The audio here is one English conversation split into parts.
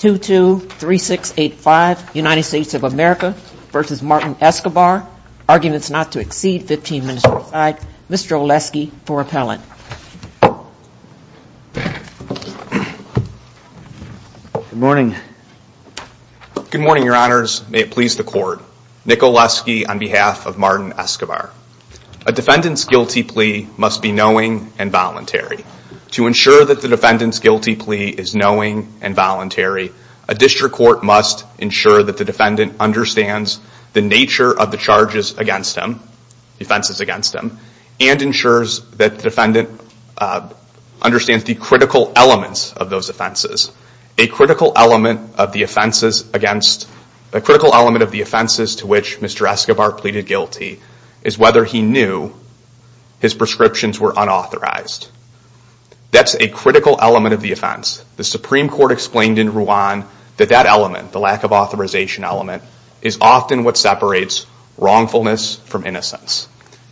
2-2-3-6-8-5 United States of America v. Martin Escobar Arguments not to exceed 15 minutes aside, Mr. Oleski for appellant. Good morning. Good morning, Your Honors. May it please the Court. Nick Oleski on behalf of Martin Escobar. A defendant's guilty plea must be knowing and voluntary. To ensure that the defendant's guilty plea is knowing and voluntary, a district court must ensure that the defendant understands the nature of the charges against him, the offenses against him, and ensures that the defendant understands the critical elements of those offenses. A critical element of the offenses to which Mr. Escobar pleaded guilty is whether he knew his prescriptions were unauthorized. That's a critical element of the offense. The Supreme Court explained in Rwan that that element, the lack of authorization element, is often what separates wrongfulness from innocence.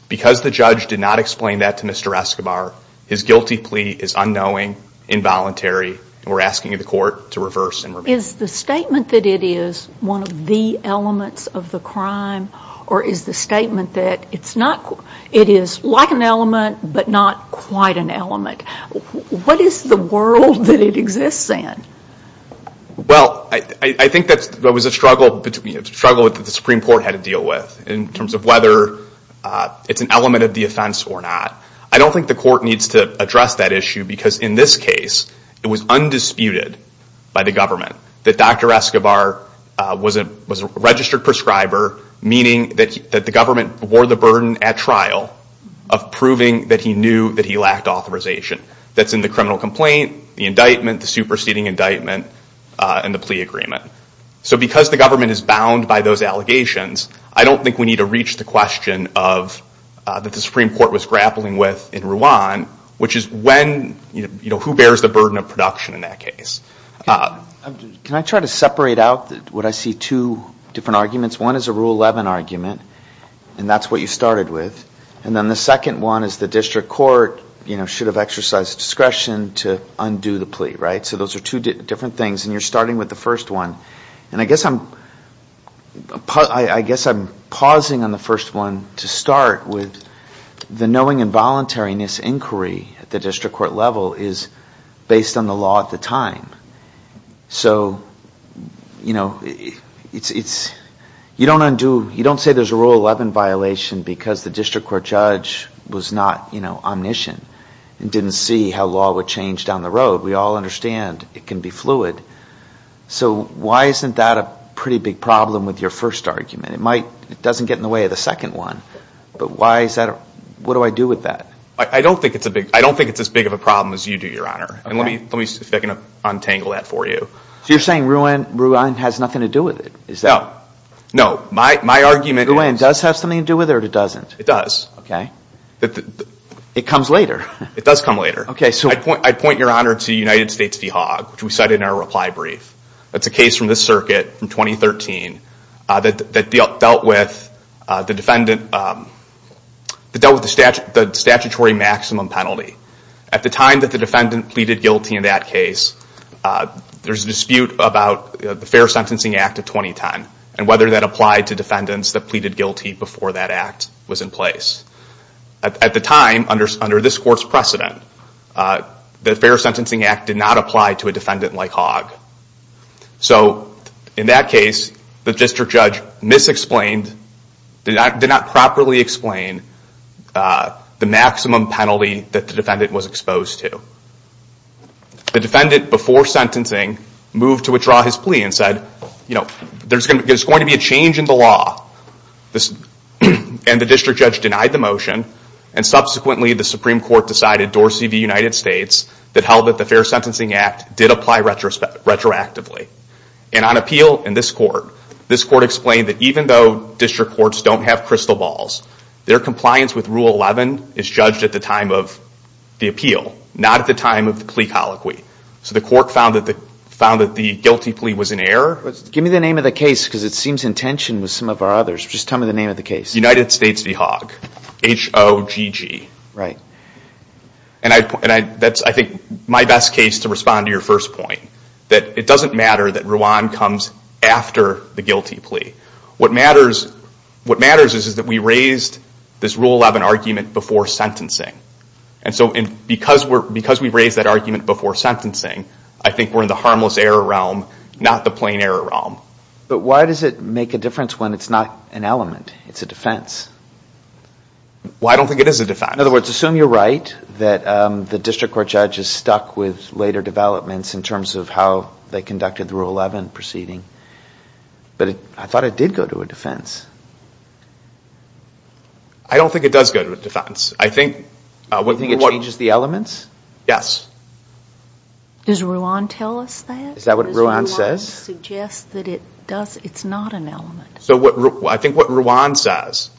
Because the judge did not explain that to Mr. Escobar, his guilty plea is unknowing, involuntary, and we're asking the Court to reverse and repeat. Is the statement that it is one of the elements of the crime or is the statement that it is like an element but not quite an element? What is the world that it exists in? Well, I think that was a struggle that the Supreme Court had to deal with in terms of whether it's an element of the offense or not. I don't think the Court needs to address that issue because in this case it was undisputed by the government that Dr. Escobar was a registered prescriber, meaning that the government bore the burden at trial of proving that he knew that he lacked authorization. That's in the criminal complaint, the indictment, the superseding indictment, and the plea agreement. So because the government is bound by those allegations, I don't think we need to reach the question that the Supreme Court was grappling with in Rwan, which is who bears the burden of production in that case? Can I try to separate out what I see two different arguments? One is a Rule 11 argument, and that's what you started with, and then the second one is the district court should have exercised discretion to undo the plea, right? So those are two different things, and you're starting with the first one. And I guess I'm pausing on the first one to start with the knowing involuntariness inquiry at the district court level is based on the law at the time. You don't say there's a Rule 11 violation because the district court judge was not omniscient and didn't see how law would change down the road. We all understand it can be fluid. So why isn't that a pretty big problem with your first argument? It doesn't get in the way of the second one, but what do I do with that? I don't think it's as big of a problem as you do, Your Honor. Let me see if I can untangle that for you. So you're saying Rwan has nothing to do with it? No. My argument is... Rwan does have something to do with it or it doesn't? It does. It comes later. It does come later. I'd point, Your Honor, to United States v. Hogg, which we cited in our reply brief. That's a case from this circuit from 2013 that dealt with the statutory maximum penalty. At the time that the defendant pleaded guilty in that case, there's a dispute about the Fair Sentencing Act of 2010 and whether that applied to defendants that pleaded guilty before that act was in place. At the time, under this court's precedent, the Fair Sentencing Act did not apply to a defendant like Hogg. So in that case, the district judge mis-explained, did not properly explain, the maximum penalty that the defendant was exposed to. The defendant, before sentencing, moved to withdraw his plea and said, there's going to be a change in the law, and the district judge denied the motion. Subsequently, the Supreme Court decided, Dorsey v. United States, that held that the Fair Sentencing Act did apply retroactively. On appeal, in this court, this court explained that even though district courts don't have crystal balls, their compliance with Rule 11 is judged at the time of the appeal, not at the time of the plea colloquy. So the court found that the guilty plea was in error. United States v. Hogg. H-O-G-G. And that's, I think, my best case to respond to your first point, that it doesn't matter that Rwan comes after the guilty plea. What matters is that we raised this Rule 11 argument before sentencing. And so because we raised that argument before sentencing, I think we're in the harmless error realm, not the plain error realm. But why does it make a difference when it's not an element? It's a defense. Well, I don't think it is a defense. In other words, assume you're right, that the district court judge is stuck with later developments in terms of how they conducted the Rule 11 proceeding. But I thought it did go to a defense. I don't think it does go to a defense. I think... You think it changes the elements? Yes. Does Rwan tell us that? Does Rwan suggest that it's not an element? I think what Rwan says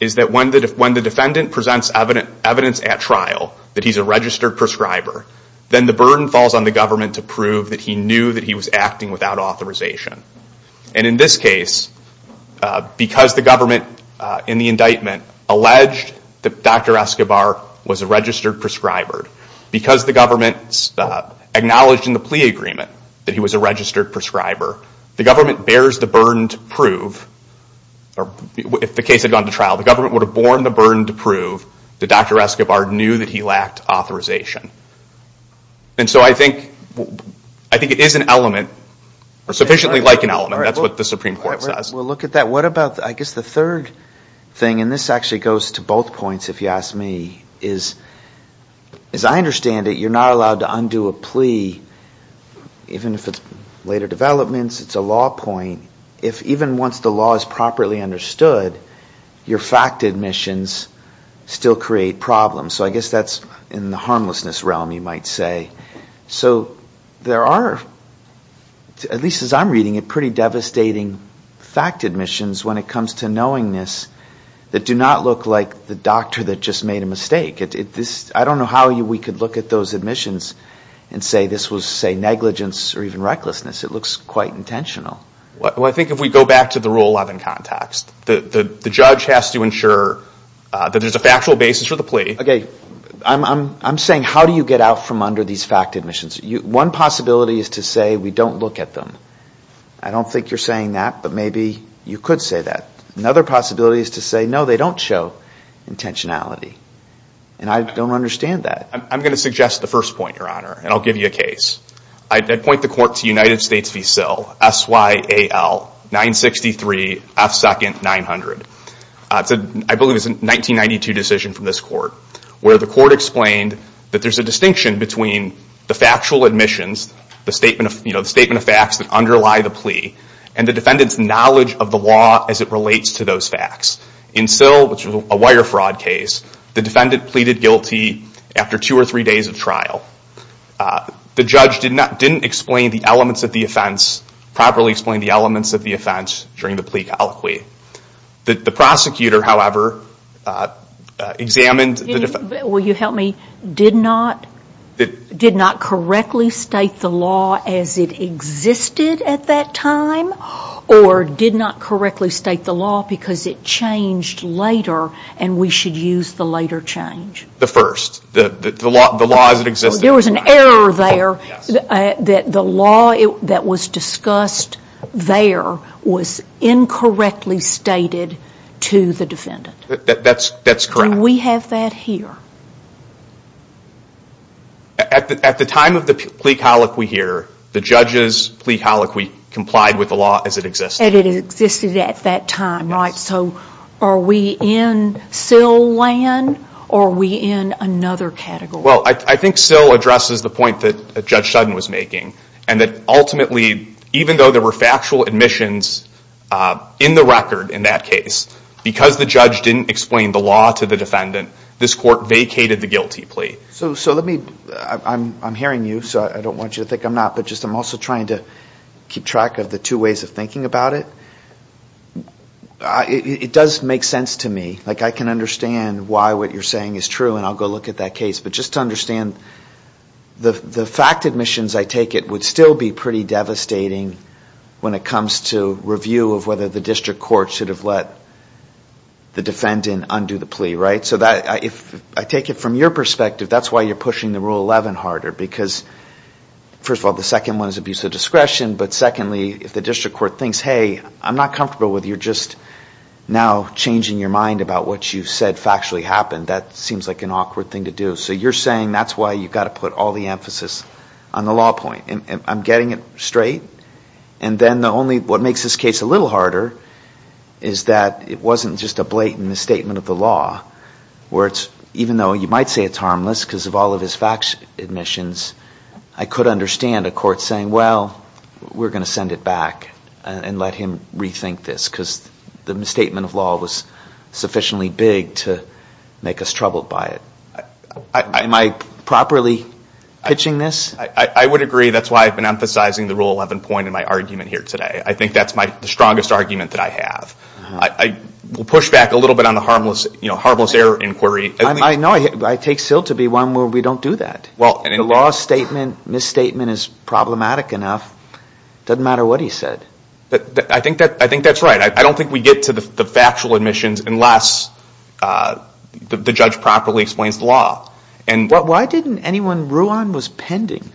is that when the defendant presents evidence at trial that he's a registered prescriber, then the burden falls on the government to prove that he knew that he was acting without authorization. And in this case, because the government, in the indictment, alleged that Dr. Escobar was a registered prescriber, because the government acknowledged in the plea agreement that he was a registered prescriber, the government bears the burden to prove, or if the case had gone to trial, the government would have borne the burden to prove that Dr. Escobar knew that he lacked authorization. And so I think it is an element, or sufficiently like an element. That's what the Supreme Court says. Well, look at that. What about, I guess, the third thing? And this actually goes to both points, if you ask me. As I understand it, you're not allowed to undo a plea, even if it's later developments, it's a law point, if even once the law is properly understood, your fact admissions still create problems. So I guess that's in the harmlessness realm, you might say. So there are, at least as I'm reading it, pretty devastating fact admissions when it comes to knowingness that do not look like the doctor that just made a mistake. I don't know how we could look at those admissions and say this was, say, negligence or even recklessness. It looks quite intentional. Well, I think if we go back to the Rule 11 context, the judge has to ensure that there's a factual basis for the plea. Okay. I'm saying how do you get out from under these fact admissions? One possibility is to say we don't look at them. I don't think you're saying that, but maybe you could say that. Another possibility is to say, no, they don't show intentionality. And I don't understand that. I'm going to suggest the first point, Your Honor, and I'll give you a case. I'd point the court to United States v. Sill, S-Y-A-L, 963-F2-900. It's a, I believe it's a 1992 decision from this court, where the court explained that there's a distinction between the factual admissions, the statement of facts that underlie the plea, and the defendant's knowledge of the law as it relates to those facts. In Sill, which was a wire fraud case, the defendant pleaded guilty after two or three days of trial. The judge did not, didn't explain the elements of the offense, properly explain the elements of the offense during the plea colloquy. The prosecutor, however, examined... Will you help me? Did not correctly state the law as it existed at that time, or did not correctly state the law because it changed later and we should use the later change? The first. The law as it existed. There was an error there that the law that was discussed there was incorrectly stated to the defendant. That's correct. Do we have that here? At the time of the plea colloquy here, the judge's plea colloquy complied with the law as it existed. And it existed at that time, right? So are we in Sill land, or are we in another category? Well, I think Sill addresses the point that Judge Sutton was making, and that ultimately, even though there were factual admissions in the record in that case, because the judge didn't explain the law to the defendant, this court vacated the guilty plea. So I'm hearing you, so I don't want you to think I'm not, but I'm also trying to keep track of the two ways of thinking about it. It does make sense to me. I can understand why what you're saying is true, and I'll go look at that case. But just to understand, the fact admissions, I take it, would still be pretty devastating when it comes to review of whether the district court should have let the defendant undo the plea, right? So I take it from your perspective, that's why you're pushing the Rule 11 harder. Because, first of all, the second one is abuse of discretion, but secondly, if the district court thinks, hey, I'm not comfortable with you just now changing your mind about what you said factually happened, that seems like an awkward thing to do. So you're saying that's why you've got to put all the emphasis on the law point. And I'm getting it straight. And then the only, what makes this case a little harder is that it wasn't just a blatant misstatement of the law, where it's, even though you might say it's harmless, because of all of his fact admissions, I could understand a court saying, well, we're going to send it back and let him rethink this, because the misstatement of law was sufficiently big to make us troubled by it. Am I properly pitching this? I would agree. That's why I've been emphasizing the Rule 11 point in my argument here today. I think that's the strongest argument that I have. We'll push back a little bit on the harmless error inquiry. No, I take Sill to be one where we don't do that. The law statement, misstatement is problematic enough. It doesn't matter what he said. I think that's right. I don't think we get to the factual admissions unless the judge properly explains the law. Why didn't anyone, Ruan was pending.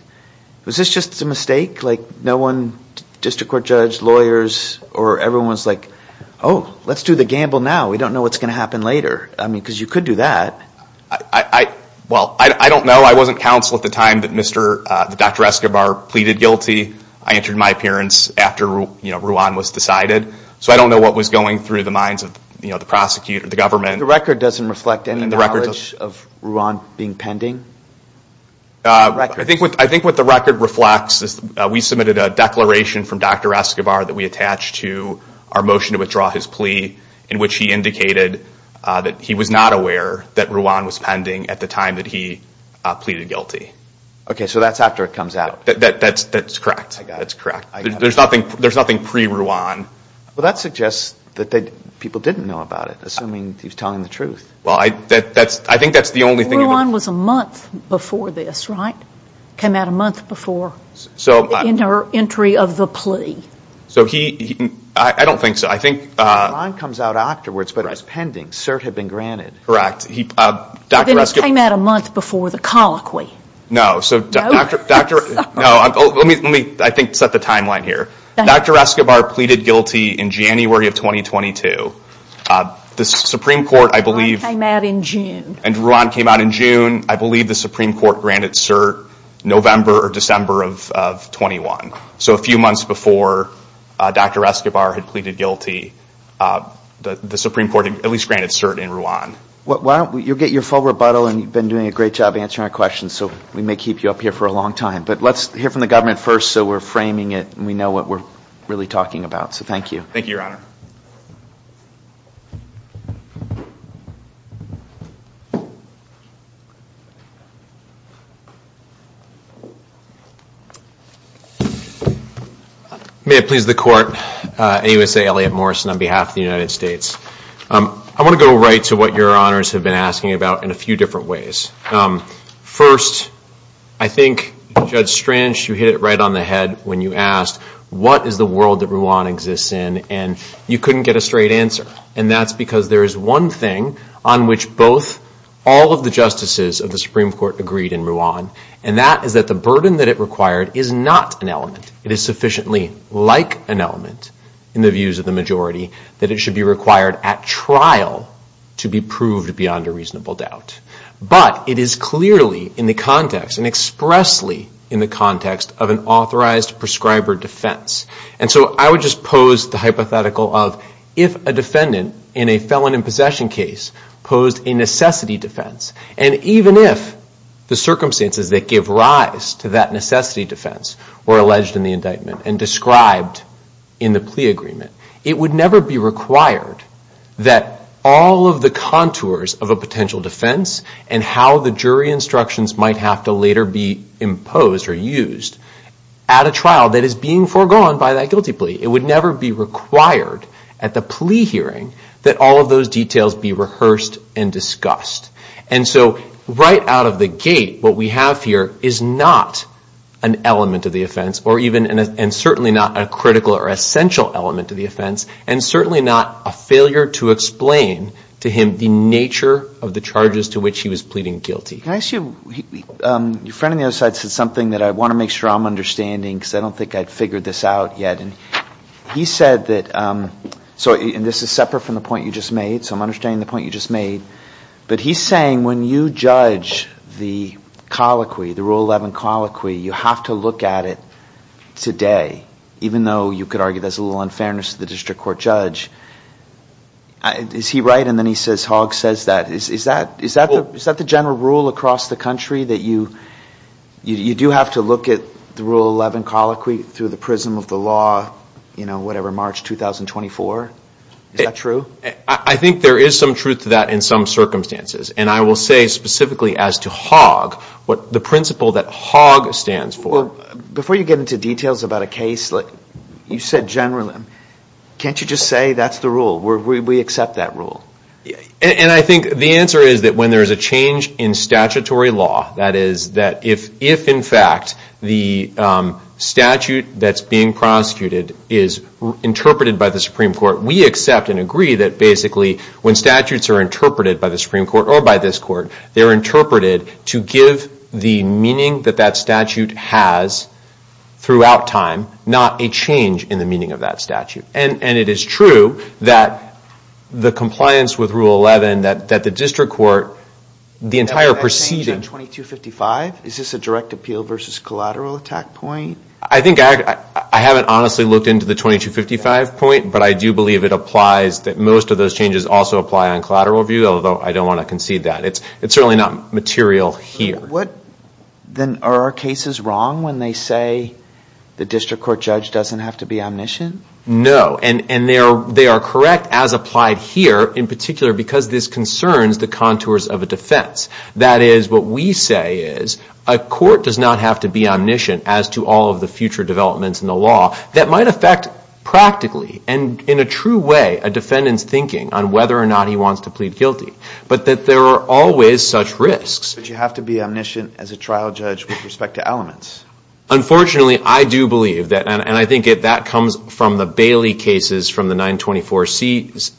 Was this just a mistake? No one district court judge, lawyers, or everyone was like, oh, let's do the gamble now. We don't know what's going to happen later. Because you could do that. Well, I don't know. I wasn't counsel at the time that Dr. Escobar pleaded guilty. I entered my appearance after Ruan was decided. So I don't know what was going through the minds of the prosecutor, the government. The record doesn't reflect any knowledge of Ruan being pending? I think what the record reflects is we submitted a declaration from Dr. Escobar that we attached to our motion to withdraw his plea, in which he indicated that he was not aware that Ruan was pending at the time that he pleaded guilty. Okay, so that's after it comes out. That's correct. There's nothing pre-Ruan. Well, that suggests that people didn't know about it, assuming he was telling the truth. Ruan was a month before this, right? Came out a month before the entry of the plea. I don't think so. Ruan comes out afterwards, but is pending. CERT had been granted. Correct. Then it came out a month before the colloquy. No. Let me set the timeline here. Dr. Escobar pleaded guilty in January of 2022. Ruan came out in June. And Ruan came out in June. I believe the Supreme Court granted CERT November or December of 2021. So a few months before Dr. Escobar had pleaded guilty, the Supreme Court at least granted CERT in Ruan. You'll get your full rebuttal, and you've been doing a great job answering our questions, so we may keep you up here for a long time. But let's hear from the government first so we're framing it and we know what we're really talking about. So thank you. Thank you, Your Honor. May it please the court. AUSA Elliott Morrison on behalf of the United States. I want to go right to what your honors have been asking about in a few different ways. First, I think Judge Strange, you hit it right on the head when you asked, what is the world that Ruan exists in? And you couldn't get a straight answer. And that's because there is one thing on which both all of the justices of the Supreme Court agreed in Ruan. And that is that the burden that it required is not an element. It is sufficiently like an element in the views of the majority that it should be required at trial to be proved beyond a reasonable doubt. But it is clearly in the context and expressly in the context of an authorized prescriber defendant. And so I would just pose the hypothetical of if a defendant in a felon in possession case posed a necessity defense, and even if the circumstances that give rise to that necessity defense were alleged in the indictment and described in the plea agreement, it would never be required that all of the contours of a potential defense and how the jury instructions might have to later be imposed or used at a trial that is being foregone by that guilty plea. It would never be required at the plea hearing that all of those details be rehearsed and discussed. And so right out of the gate, what we have here is not an element of the offense, and certainly not a critical or essential element to the offense, and certainly not a failure to explain to him the nature of the charges to which he was pleading guilty. Can I ask you, your friend on the other side said something that I want to make sure I'm understanding, because I don't think I've figured this out yet. He said that, and this is separate from the point you just made, so I'm understanding the point you just made, but he's saying when you judge the colloquy, the Rule 11 colloquy, you have to look at it today, even though you could argue there's a little unfairness to the district court judge. Is he right? And then he says Hogg says that. Is that the general rule across the country, that you do have to look at the Rule 11 colloquy through the prism of the law, you know, whatever, March 2024? Is that true? I think there is some truth to that in some circumstances, and I will say specifically as to Hogg, what the principle that Hogg stands for. So before you get into details about a case, you said general. Can't you just say that's the rule? We accept that rule. And I think the answer is that when there is a change in statutory law, that is, that if in fact the statute that's being prosecuted is interpreted by the Supreme Court, we accept and agree that basically when statutes are interpreted by the Supreme Court or by this court, they're interpreted to give the meaning that that statute has throughout time, not a change in the meaning of that statute. And it is true that the compliance with Rule 11, that the district court, the entire proceeding... Is that a change on 2255? Is this a direct appeal versus collateral attack point? I think I haven't honestly looked into the 2255 point, but I do believe it applies, that most of those changes also apply on collateral review, although I don't want to concede that. It's certainly not material here. Then are our cases wrong when they say the district court judge doesn't have to be omniscient? No, and they are correct as applied here, in particular because this concerns the contours of a defense. That is, what we say is a court does not have to be omniscient as to all of the future developments in the law that might affect practically and in a true way a defendant's thinking on whether or not he wants to plead guilty, but that there are always such risks. But you have to be omniscient as a trial judge with respect to elements. Unfortunately, I do believe that, and I think that comes from the Bailey cases from the 924C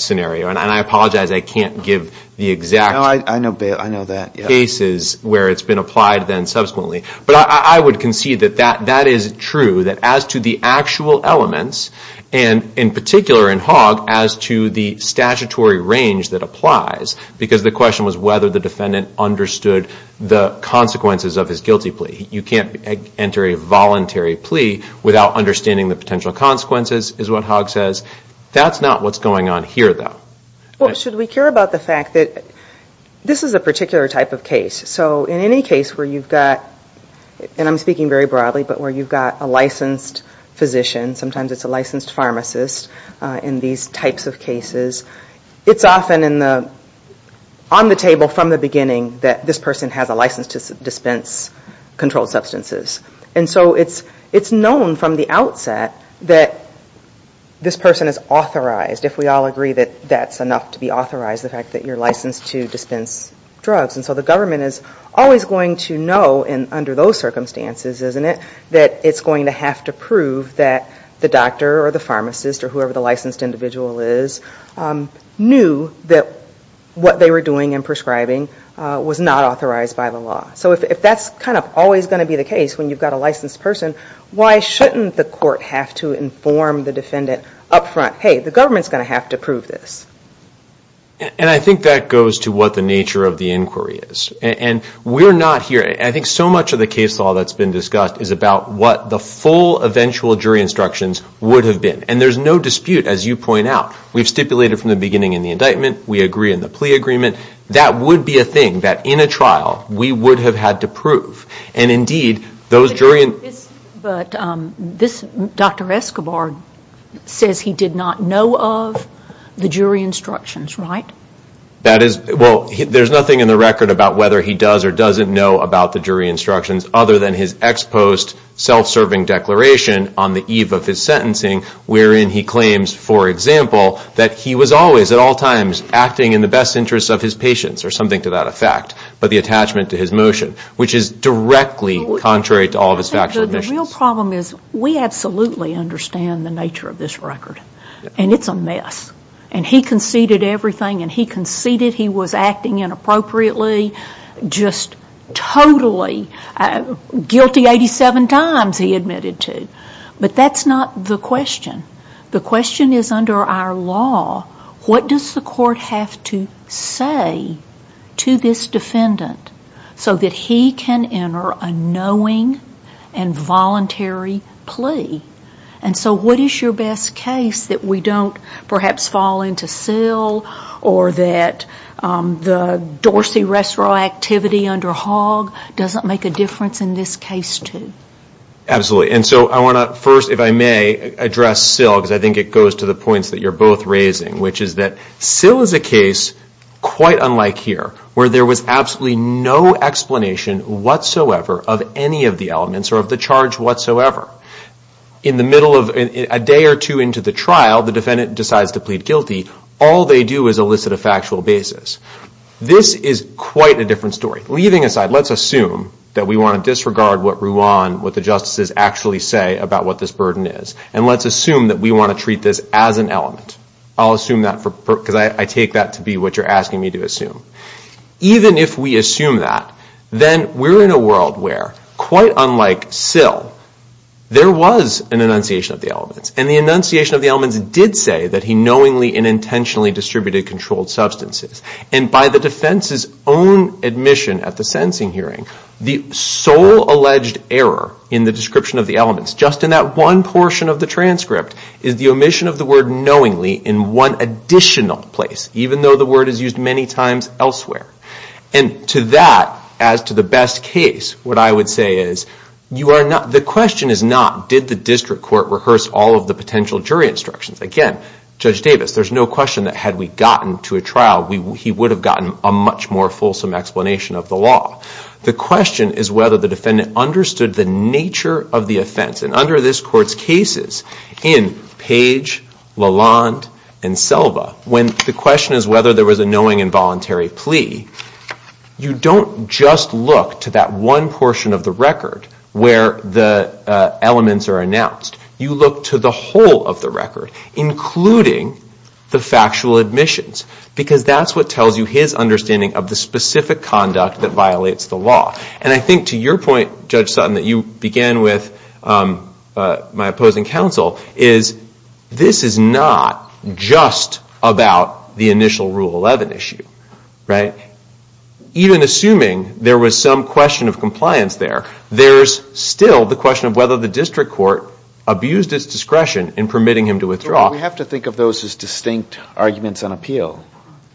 scenario, and I apologize I can't give the exact... But I would concede that that is true, that as to the actual elements, and in particular in Hogg, as to the statutory range that applies, because the question was whether the defendant understood the consequences of his guilty plea. You can't enter a voluntary plea without understanding the potential consequences, is what Hogg says. That's not what's going on here, though. Well, should we care about the fact that this is a particular type of case. So in any case where you've got, and I'm speaking very broadly, but where you've got a licensed physician, sometimes it's a licensed pharmacist in these types of cases, it's often on the table from the beginning that this person has a license to dispense controlled substances. And so it's known from the outset that this person is authorized, if we all agree that that's enough to be authorized, the fact that you're licensed to dispense drugs. And so the government is always going to know under those circumstances, isn't it, that it's going to have to prove that the doctor or the pharmacist or whoever the licensed individual is, knew that what they were doing in prescribing was not authorized by the law. So if that's kind of always going to be the case when you've got a licensed person, why shouldn't the court have to inform the defendant up front, hey, the government's going to have to prove this. And I think that goes to what the nature of the inquiry is. And we're not here, I think so much of the case law that's been discussed is about what the full eventual jury instructions would have been. And there's no dispute, as you point out. We've stipulated from the beginning in the indictment, we agree in the plea agreement, that would be a thing that in a trial we would have had to prove. But this Dr. Escobar says he did not know of the jury instructions, right? Well, there's nothing in the record about whether he does or doesn't know about the jury instructions other than his ex post self-serving declaration on the eve of his sentencing, wherein he claims, for example, that he was always at all times acting in the best interest of his patients or something to that effect, but the attachment to his motion, which is directly contrary to all of his factual admissions. The real problem is we absolutely understand the nature of this record, and it's a mess. And he conceded everything, and he conceded he was acting inappropriately, just totally guilty 87 times he admitted to. But that's not the question. The question is under our law, what does the court have to say to this defendant so that he can enter a knowing and voluntary plea? And so what is your best case that we don't perhaps fall into cell or that the Dorsey Restaurant activity under Hogg doesn't make a difference in this case too? Absolutely. And so I want to first, if I may, address Syl, because I think it goes to the points that you're both raising, which is that Syl is a case quite unlike here, where there was absolutely no explanation whatsoever of any of the elements or of the charge whatsoever. In the middle of a day or two into the trial, the defendant decides to plead guilty. All they do is elicit a factual basis. This is quite a different story. Leaving aside, let's assume that we want to disregard what Ruan, what the justices actually say about what this burden is, and let's assume that we want to treat this as an element. I'll assume that because I take that to be what you're asking me to assume. Even if we assume that, then we're in a world where, quite unlike Syl, there was an enunciation of the elements. And the enunciation of the elements did say that he knowingly and intentionally distributed controlled substances. And by the defense's own admission at the sentencing hearing, the sole alleged error in the description of the elements, just in that one portion of the transcript, is the omission of the word knowingly in one additional place, even though the word is used many times elsewhere. And to that, as to the best case, what I would say is the question is not, did the district court rehearse all of the potential jury instructions? Again, Judge Davis, there's no question that had we gotten to a trial, he would have gotten a much more fulsome explanation of the law. The question is whether the defendant understood the nature of the offense. And under this court's cases, in Page, Lalonde, and Selva, when the question is whether there was a knowing and voluntary plea, you don't just look to that one portion of the record where the elements are announced. You look to the whole of the record, including the factual admissions, because that's what tells you his understanding of the specific conduct that violates the law. And I think to your point, Judge Sutton, that you began with my opposing counsel, is this is not just about the initial Rule 11 issue, right? Even assuming there was some question of compliance there, there's still the question of whether the district court abused its discretion in permitting him to withdraw. But we have to think of those as distinct arguments on appeal,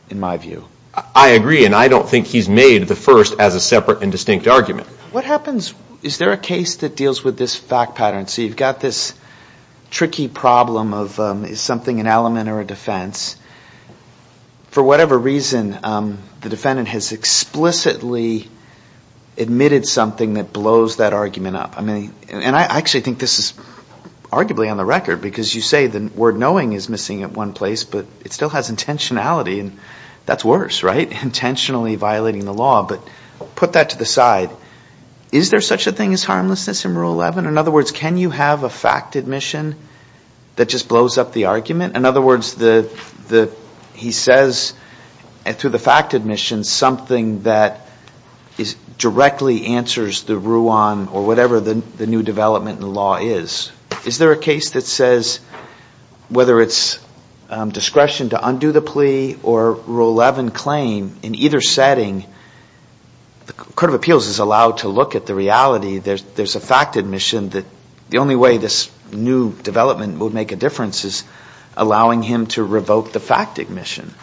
in my view. I agree, and I don't think he's made the first as a separate and distinct argument. What happens, is there a case that deals with this fact pattern? So you've got this tricky problem of is something an element or a defense? For whatever reason, the defendant has explicitly admitted something that blows that argument up. I mean, and I actually think this is arguably on the record, because you say the word knowing is missing in one place, but it still has intentionality, and that's worse, right? Intentionally violating the law, but put that to the side. Is there such a thing as harmlessness in Rule 11? In other words, can you have a fact admission that just blows up the argument? In other words, he says, through the fact admission, something that directly answers the RUAN or whatever the new development in the law is. Is there a case that says, whether it's discretion to undo the plea or Rule 11 claim, in either setting, the Court of Appeals is allowed to look at the reality. There's a fact admission that the only way this new development would make a difference is allowing him to revoke the fact admission.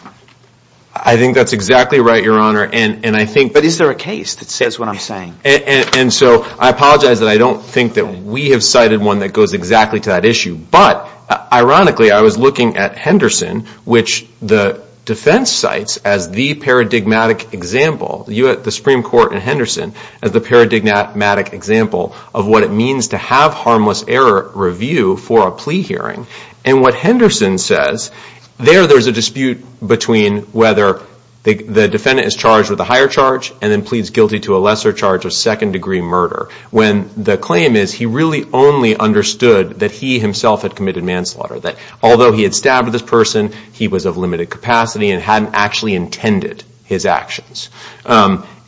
I think that's exactly right, Your Honor, and I think... But is there a case that says what I'm saying? And so I apologize that I don't think that we have cited one that goes exactly to that issue, but ironically I was looking at Henderson, which the defense cites as the paradigmatic example, the Supreme Court in Henderson, as the paradigmatic example of what it means to have harmless error review for a plea hearing, and what Henderson says, there there's a dispute between whether the defendant is charged with a higher charge and then pleads guilty to a lesser charge of second degree murder, when the claim is he really only understood that he himself had committed manslaughter, that although he had stabbed this person, he was of limited capacity and hadn't actually intended his actions.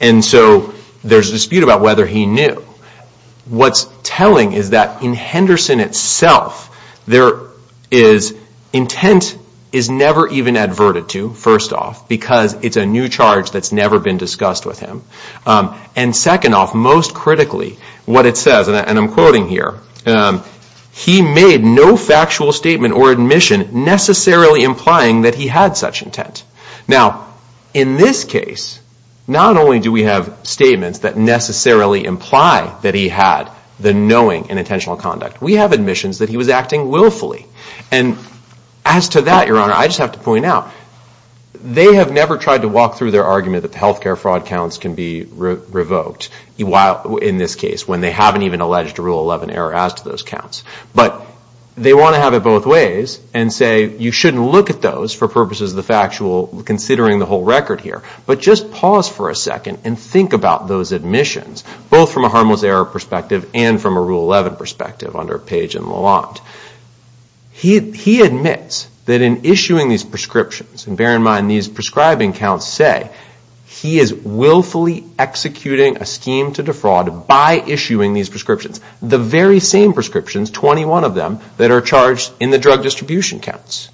And so there's a dispute about whether he knew. What's telling is that in Henderson itself, intent is never even adverted to, first off, because it's a new charge that's never been discussed with him. And second off, most critically, what it says, and I'm quoting here, he made no factual statement or admission necessarily implying that he had such intent. Now, in this case, not only do we have statements that necessarily imply that he had the knowing and intentional conduct. We have admissions that he was acting willfully. And as to that, Your Honor, I just have to point out, they have never tried to walk through their argument that the health care fraud counts can be revoked, in this case, when they haven't even alleged a Rule 11 error as to those counts. But they want to have it both ways and say you shouldn't look at those for purposes of the factual, considering the whole record here, but just pause for a second and think about those admissions, both from a harmless error perspective and from a Rule 11 perspective under Page and Lalonde. He admits that in issuing these prescriptions, and bear in mind, these prescribing counts say he is willfully executing a scheme to defraud by issuing these prescriptions. The very same prescriptions, 21 of them, that are charged in the drug distribution counts.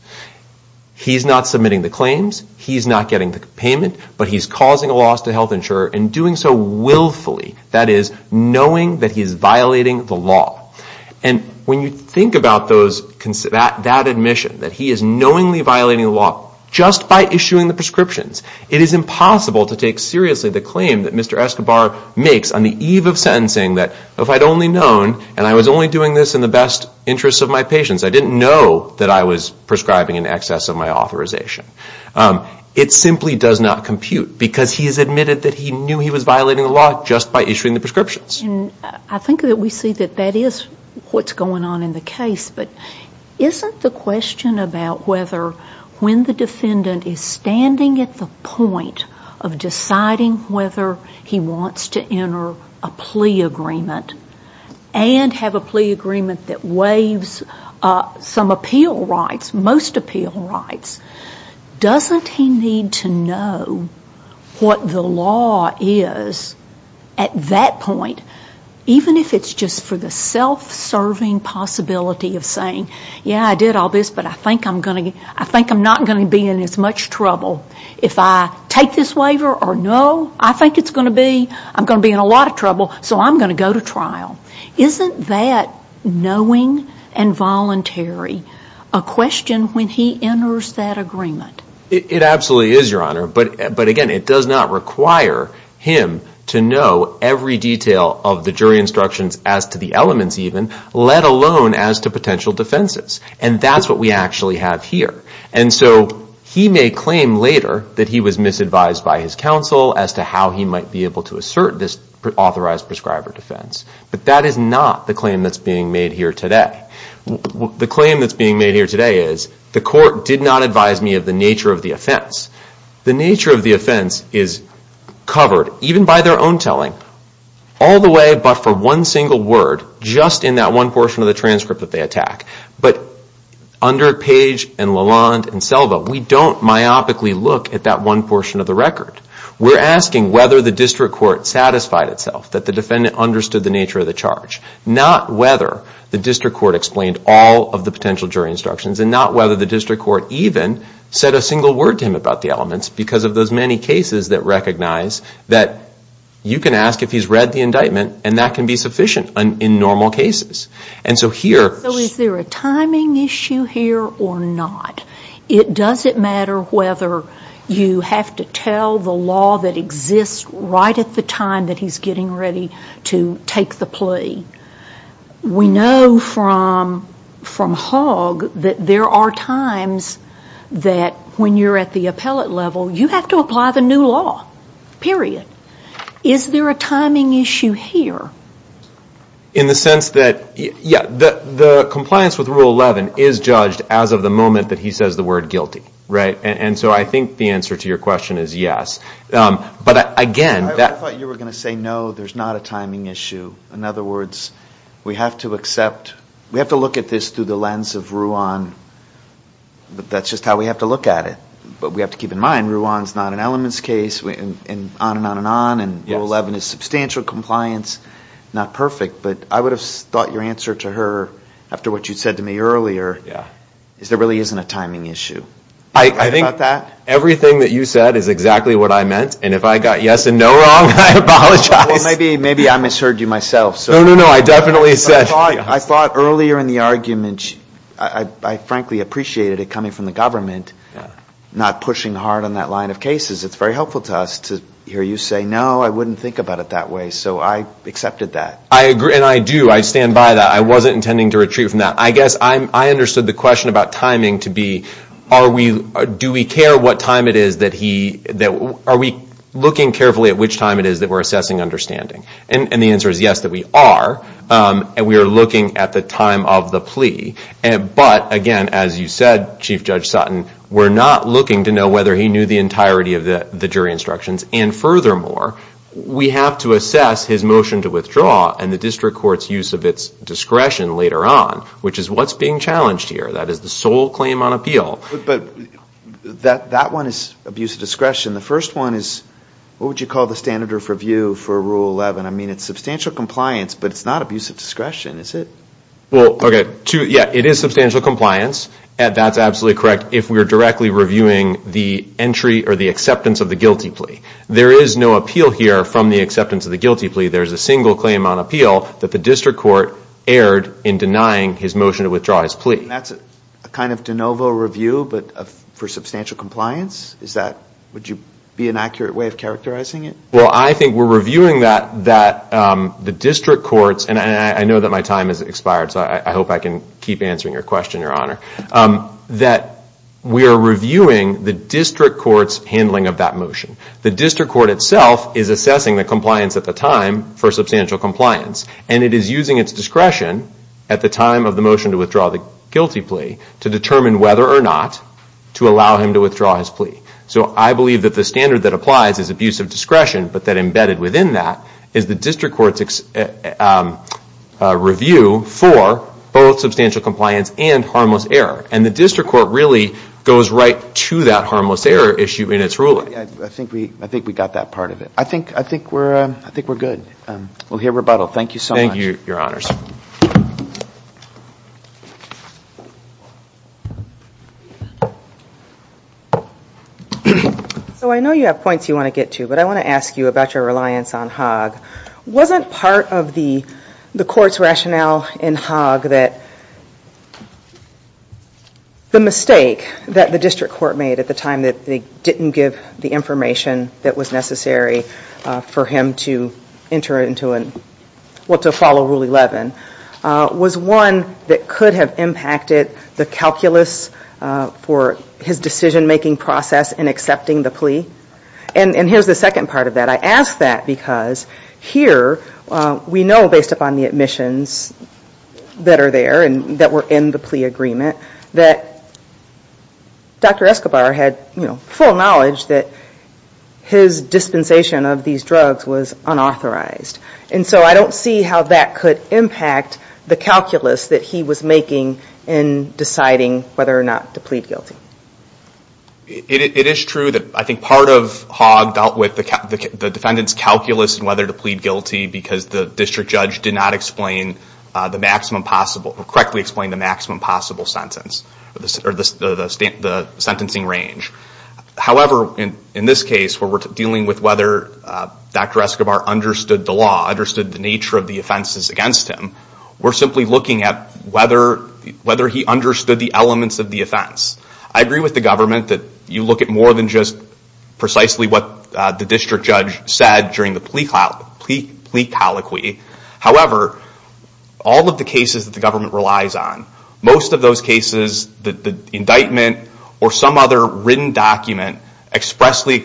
He's not submitting the claims, he's not getting the payment, but he's causing a loss to health insurer and doing so willfully. That is, knowing that he's violating the law. And when you think about that admission, that he is knowingly violating the law just by issuing the prescriptions, it is impossible to take seriously the claim that Mr. Escobar makes on the eve of sentencing that if I'd only known, and I was only doing this in the best interest of my patients, I didn't know that I was prescribing in excess of my authorization. It simply does not compute, because he has admitted that he knew he was violating the law just by issuing the prescriptions. And I think that we see that that is what's going on in the case, but isn't the question about whether when the defendant is standing at the point of deciding whether he wants to enter a plea agreement and have a plea agreement that waives some appeal rights, most appeal rights, doesn't he need to know what the law is at that point, even if it's just for the self-serving possibility of saying, yeah, I did all this, but I think I'm not going to be in as much trouble. If I take this waiver or no, I think I'm going to be in a lot of trouble, so I'm going to go to trial. Isn't that knowing and voluntary a question when he enters that agreement? It absolutely is, Your Honor, but again, it does not require him to know every detail of the jury instructions as to the elements even, let alone as to potential defenses. And that's what we actually have here. And so he may claim later that he was misadvised by his counsel as to how he might be able to assert this authorized prescriber defense, but that is not the claim that's being made here today. The claim that's being made here today is the court did not advise me of the nature of the offense. The nature of the offense is covered, even by their own telling, all the way but for one single word, just in that one portion of the transcript that they attack. But under Page and Lalonde and Selva, we don't myopically look at that one portion of the record. We're asking whether the district court satisfied itself that the defendant understood the nature of the charge, not whether the district court explained all of the potential jury instructions, and not whether the district court even said a single word to him about the elements because of those many cases that recognize that you can ask if he's read the indictment and that can be sufficient in normal cases. So is there a timing issue here or not? It doesn't matter whether you have to tell the law that exists right at the time that he's getting ready to take the plea. We know from Hogg that there are times that when you're at the appellate level, you have to apply the new law, period. Is there a timing issue here? In the sense that the compliance with Rule 11 is judged as of the moment that he says the word guilty. And so I think the answer to your question is yes. I thought you were going to say no, there's not a timing issue. In other words, we have to accept, we have to look at this through the lens of Ruan, but that's just how we have to look at it. But we have to keep in mind, Ruan's not an elements case, and on and on and on, and Rule 11 is substantial compliance, not perfect, but I would have thought your answer to her, after what you said to me earlier, is there really isn't a timing issue. Everything that you said is exactly what I meant, and if I got yes and no wrong, I apologize. Well, maybe I misheard you myself. I thought earlier in the argument, I frankly appreciated it coming from the government, not pushing hard on that line of cases. It's very helpful to us to hear you say no, I wouldn't think about it that way, so I accepted that. I agree, and I do. I stand by that. I wasn't intending to retreat from that. I guess I understood the question about timing to be, do we care what time it is that he, are we looking carefully at which time it is that we're assessing understanding, and the answer is yes, that we are, and we are looking at the time of the plea, but again, as you said, Chief Judge Sutton, we're not looking to know whether he knew the entirety of the jury instructions, and furthermore, we have to assess his motion to withdraw and the district court's use of its discretion later on, which is what's being challenged here, that is the sole claim on appeal. But that one is abuse of discretion. The first one is, what would you call the standard of review for Rule 11? I mean, it's substantial compliance, but it's not abuse of discretion, is it? Well, okay, yeah, it is substantial compliance, and that's absolutely correct, if we're directly reviewing the acceptance of the guilty plea. There is no appeal here from the acceptance of the guilty plea. There's a single claim on appeal that the district court erred in denying his motion to withdraw his plea. That's a kind of de novo review, but for substantial compliance? Would you be an accurate way of characterizing it? Well, I think we're reviewing that the district court's, and I know that my time has expired, so I hope I can keep answering your question, Your Honor, that we are reviewing the district court's handling of that motion. The district court itself is assessing the compliance at the time for substantial compliance, and it is using its discretion at the time of the motion to withdraw the guilty plea to determine whether or not to allow him to withdraw his plea. So I believe that the standard that applies is abuse of discretion, but that embedded within that is the district court's review for both substantial compliance and harmless error, and the district court really goes right to that harmless error issue in its ruling. I think we got that part of it. I think we're good. So I know you have points you want to get to, but I want to ask you about your reliance on Hogg. Wasn't part of the court's rationale in Hogg that the mistake that the district court made at the time that they didn't give the information that was necessary for him to enter into and to follow Rule 11 was one that could have impacted the calculus for his decision-making process in accepting the plea? And here's the second part of that. I ask that because here we know, based upon the admissions that are there and that were in the plea agreement, that Dr. Escobar had full knowledge that his dispensation of these drugs was unauthorized. And so I don't see how that could impact the calculus that he was making in deciding whether or not to plead guilty. It is true that I think part of Hogg dealt with the defendant's calculus in whether to plead guilty because the district judge did not correctly explain the maximum possible sentence, or the sentencing range. However, in this case where we're dealing with whether Dr. Escobar understood the law, understood the nature of the offenses against him, we're simply looking at whether he understood the elements of the offense. I agree with the government that you look at more than just precisely what the district judge said during the plea colloquy. However, all of the cases that the government relies on, most of those cases, the indictment or some other written document expressly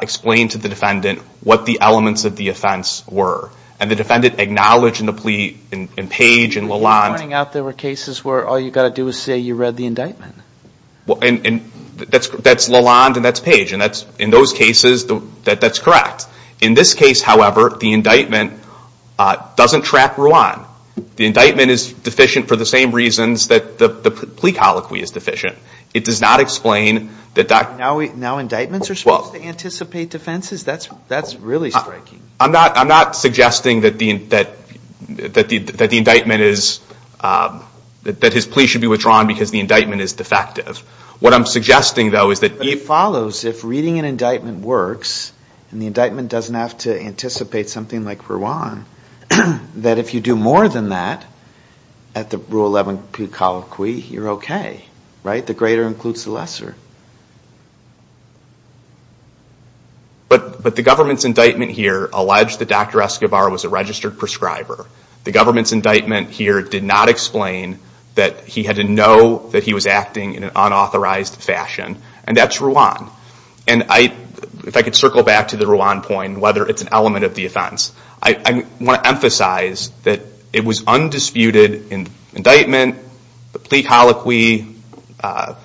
explain to the defendant what the elements of the offense were. And the defendant acknowledged in the plea, in Page and Lalonde... In those cases where all you've got to do is say you read the indictment. That's Lalonde and that's Page. In those cases, that's correct. In this case, however, the indictment doesn't track Ruan. The indictment is deficient for the same reasons that the plea colloquy is deficient. It does not explain... Now indictments are supposed to anticipate defenses? That's really striking. I'm not suggesting that the indictment is... That his plea should be withdrawn because the indictment is defective. What I'm suggesting, though, is that... But it follows, if reading an indictment works and the indictment doesn't have to anticipate something like Ruan, that if you do more than that at the Rule 11 plea colloquy, you're okay. Right? The greater includes the lesser. But the government's indictment here alleged that Dr. Escobar was a registered prescriber. The government's indictment here did not explain that he had to know that he was acting in an unauthorized fashion. And that's Ruan. And if I could circle back to the Ruan point, whether it's an element of the offense, I want to emphasize that it was undisputed in indictment, the plea colloquy, the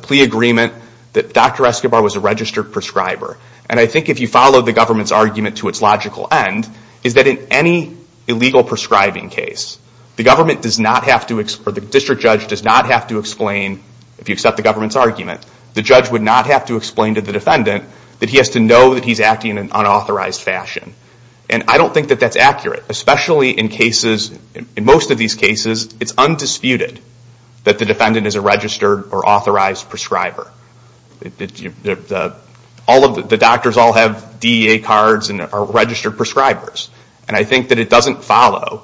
plea agreement, that Dr. Escobar was a registered prescriber. And I think if you follow the government's argument to its logical end, is that in any illegal prescribing case, the government does not have to... Or the district judge does not have to explain, if you accept the government's argument, the judge would not have to explain to the defendant that he has to know that he's acting in an unauthorized fashion. And I don't think that that's accurate, especially in cases... In most of these cases, it's undisputed that the defendant is a registered or authorized prescriber. The doctors all have DEA cards and are registered prescribers. And I think that it doesn't follow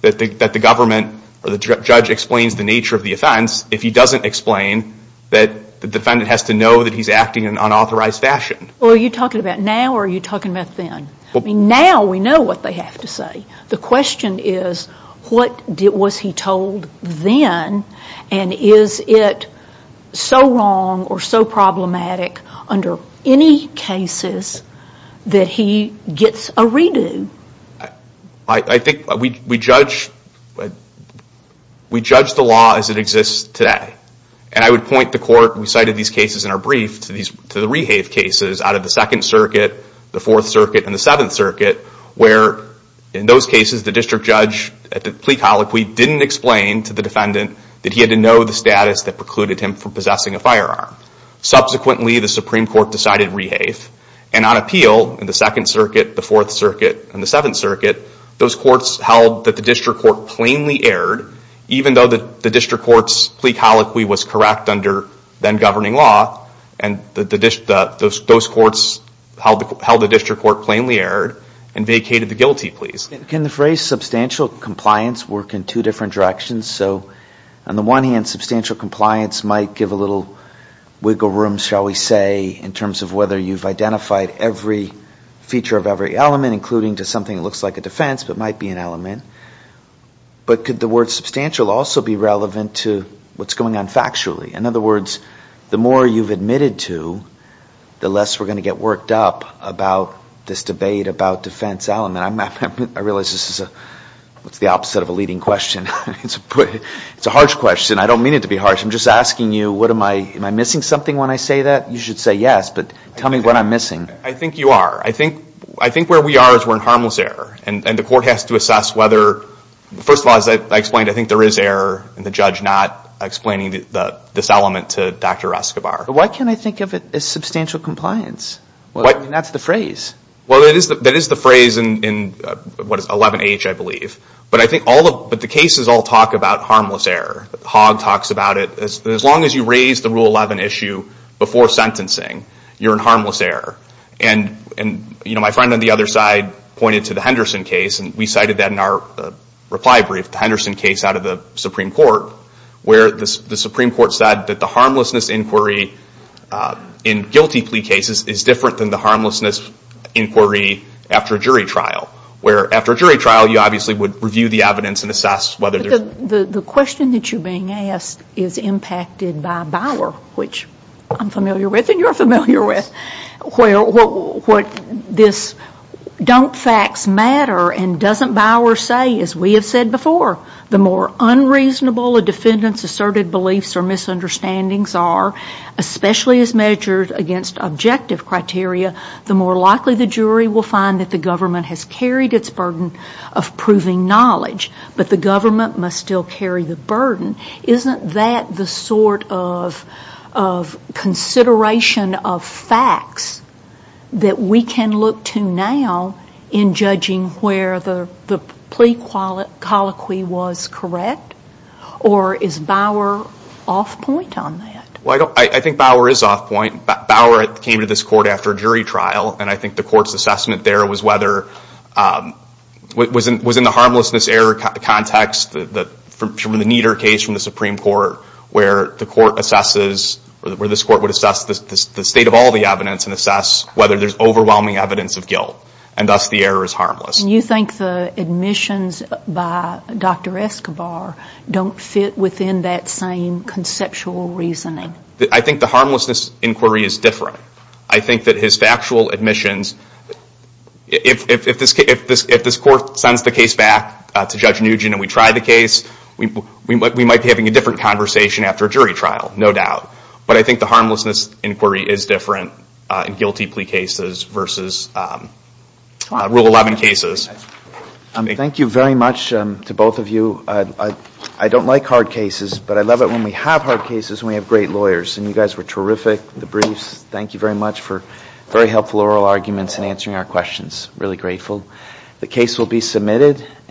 that the government or the judge explains the nature of the offense if he doesn't explain that the defendant has to know that he's acting in an unauthorized fashion. Well, are you talking about now or are you talking about then? I mean, now we know what they have to say. The question is, what was he told then, and is it so wrong or so problematic under any cases that he gets a redo? I think we judge the law as it exists today. And I would point the court, we cited these cases in our brief, to the Rehave cases out of the Second Circuit, the Fourth Circuit, and the Seventh Circuit, where in those cases, the district judge, at the plea colloquy, didn't explain to the defendant that he had to know the status that precluded him from possessing a firearm. Subsequently, the Supreme Court decided Rehave, and on appeal in the Second Circuit, the Fourth Circuit, and the Seventh Circuit, those courts held that the district court plainly erred, even though the district court's plea colloquy was correct under then-governing law, and those courts held the district court plainly erred and vacated the guilty pleas. Can the phrase substantial compliance work in two different directions? So on the one hand, substantial compliance might give a little wiggle room, shall we say, in terms of whether you've identified every feature of every element, including to something that looks like a defense but might be an element. But could the word substantial also be relevant to what's going on factually? In other words, the more you've admitted to, the less we're going to get worked up about this debate about defense element. I realize this is the opposite of a leading question. It's a harsh question. I don't mean it to be harsh. I'm just asking you, am I missing something when I say that? You should say yes, but tell me what I'm missing. I think you are. I think where we are is we're in harmless error, and the court has to assess whether – first of all, as I explained, I think there is error in the judge not explaining this element to Dr. Escobar. Why can't I think of it as substantial compliance? That's the phrase. Well, that is the phrase in 11-H, I believe. But the cases all talk about harmless error. Hogg talks about it. As long as you raise the Rule 11 issue before sentencing, you're in harmless error. And my friend on the other side pointed to the Henderson case, and we cited that in our reply brief, the Henderson case out of the Supreme Court, where the Supreme Court said that the harmlessness inquiry in guilty plea cases is different than the harmlessness inquiry after a jury trial, where after a jury trial you obviously would review the evidence and assess whether there's – But the question that you're being asked is impacted by Bauer, which I'm familiar with and you're familiar with, where what this don't facts matter and doesn't Bauer say, as we have said before, the more unreasonable a defendant's asserted beliefs or misunderstandings are, especially as measured against objective criteria, the more likely the jury will find that the government has carried its burden of proving knowledge, but the government must still carry the burden. Isn't that the sort of consideration of facts that we can look to now in judging where the plea colloquy was correct? Or is Bauer off point on that? Well, I think Bauer is off point. Bauer came to this court after a jury trial, and I think the court's assessment there was whether – was in the harmlessness error context from the Nieder case from the Supreme Court where the court assesses – where this court would assess the state of all the evidence and assess whether there's overwhelming evidence of guilt, and thus the error is harmless. And you think the admissions by Dr. Escobar don't fit within that same conceptual reasoning? I think the harmlessness inquiry is different. I think that his factual admissions – if this court sends the case back to Judge Nugent and we try the case, we might be having a different conversation after a jury trial, no doubt. But I think the harmlessness inquiry is different in guilty plea cases versus Rule 11 cases. Thank you very much to both of you. I don't like hard cases, but I love it when we have hard cases and we have great lawyers. And you guys were terrific with the briefs. Thank you very much for very helpful oral arguments and answering our questions. Really grateful. The case will be submitted.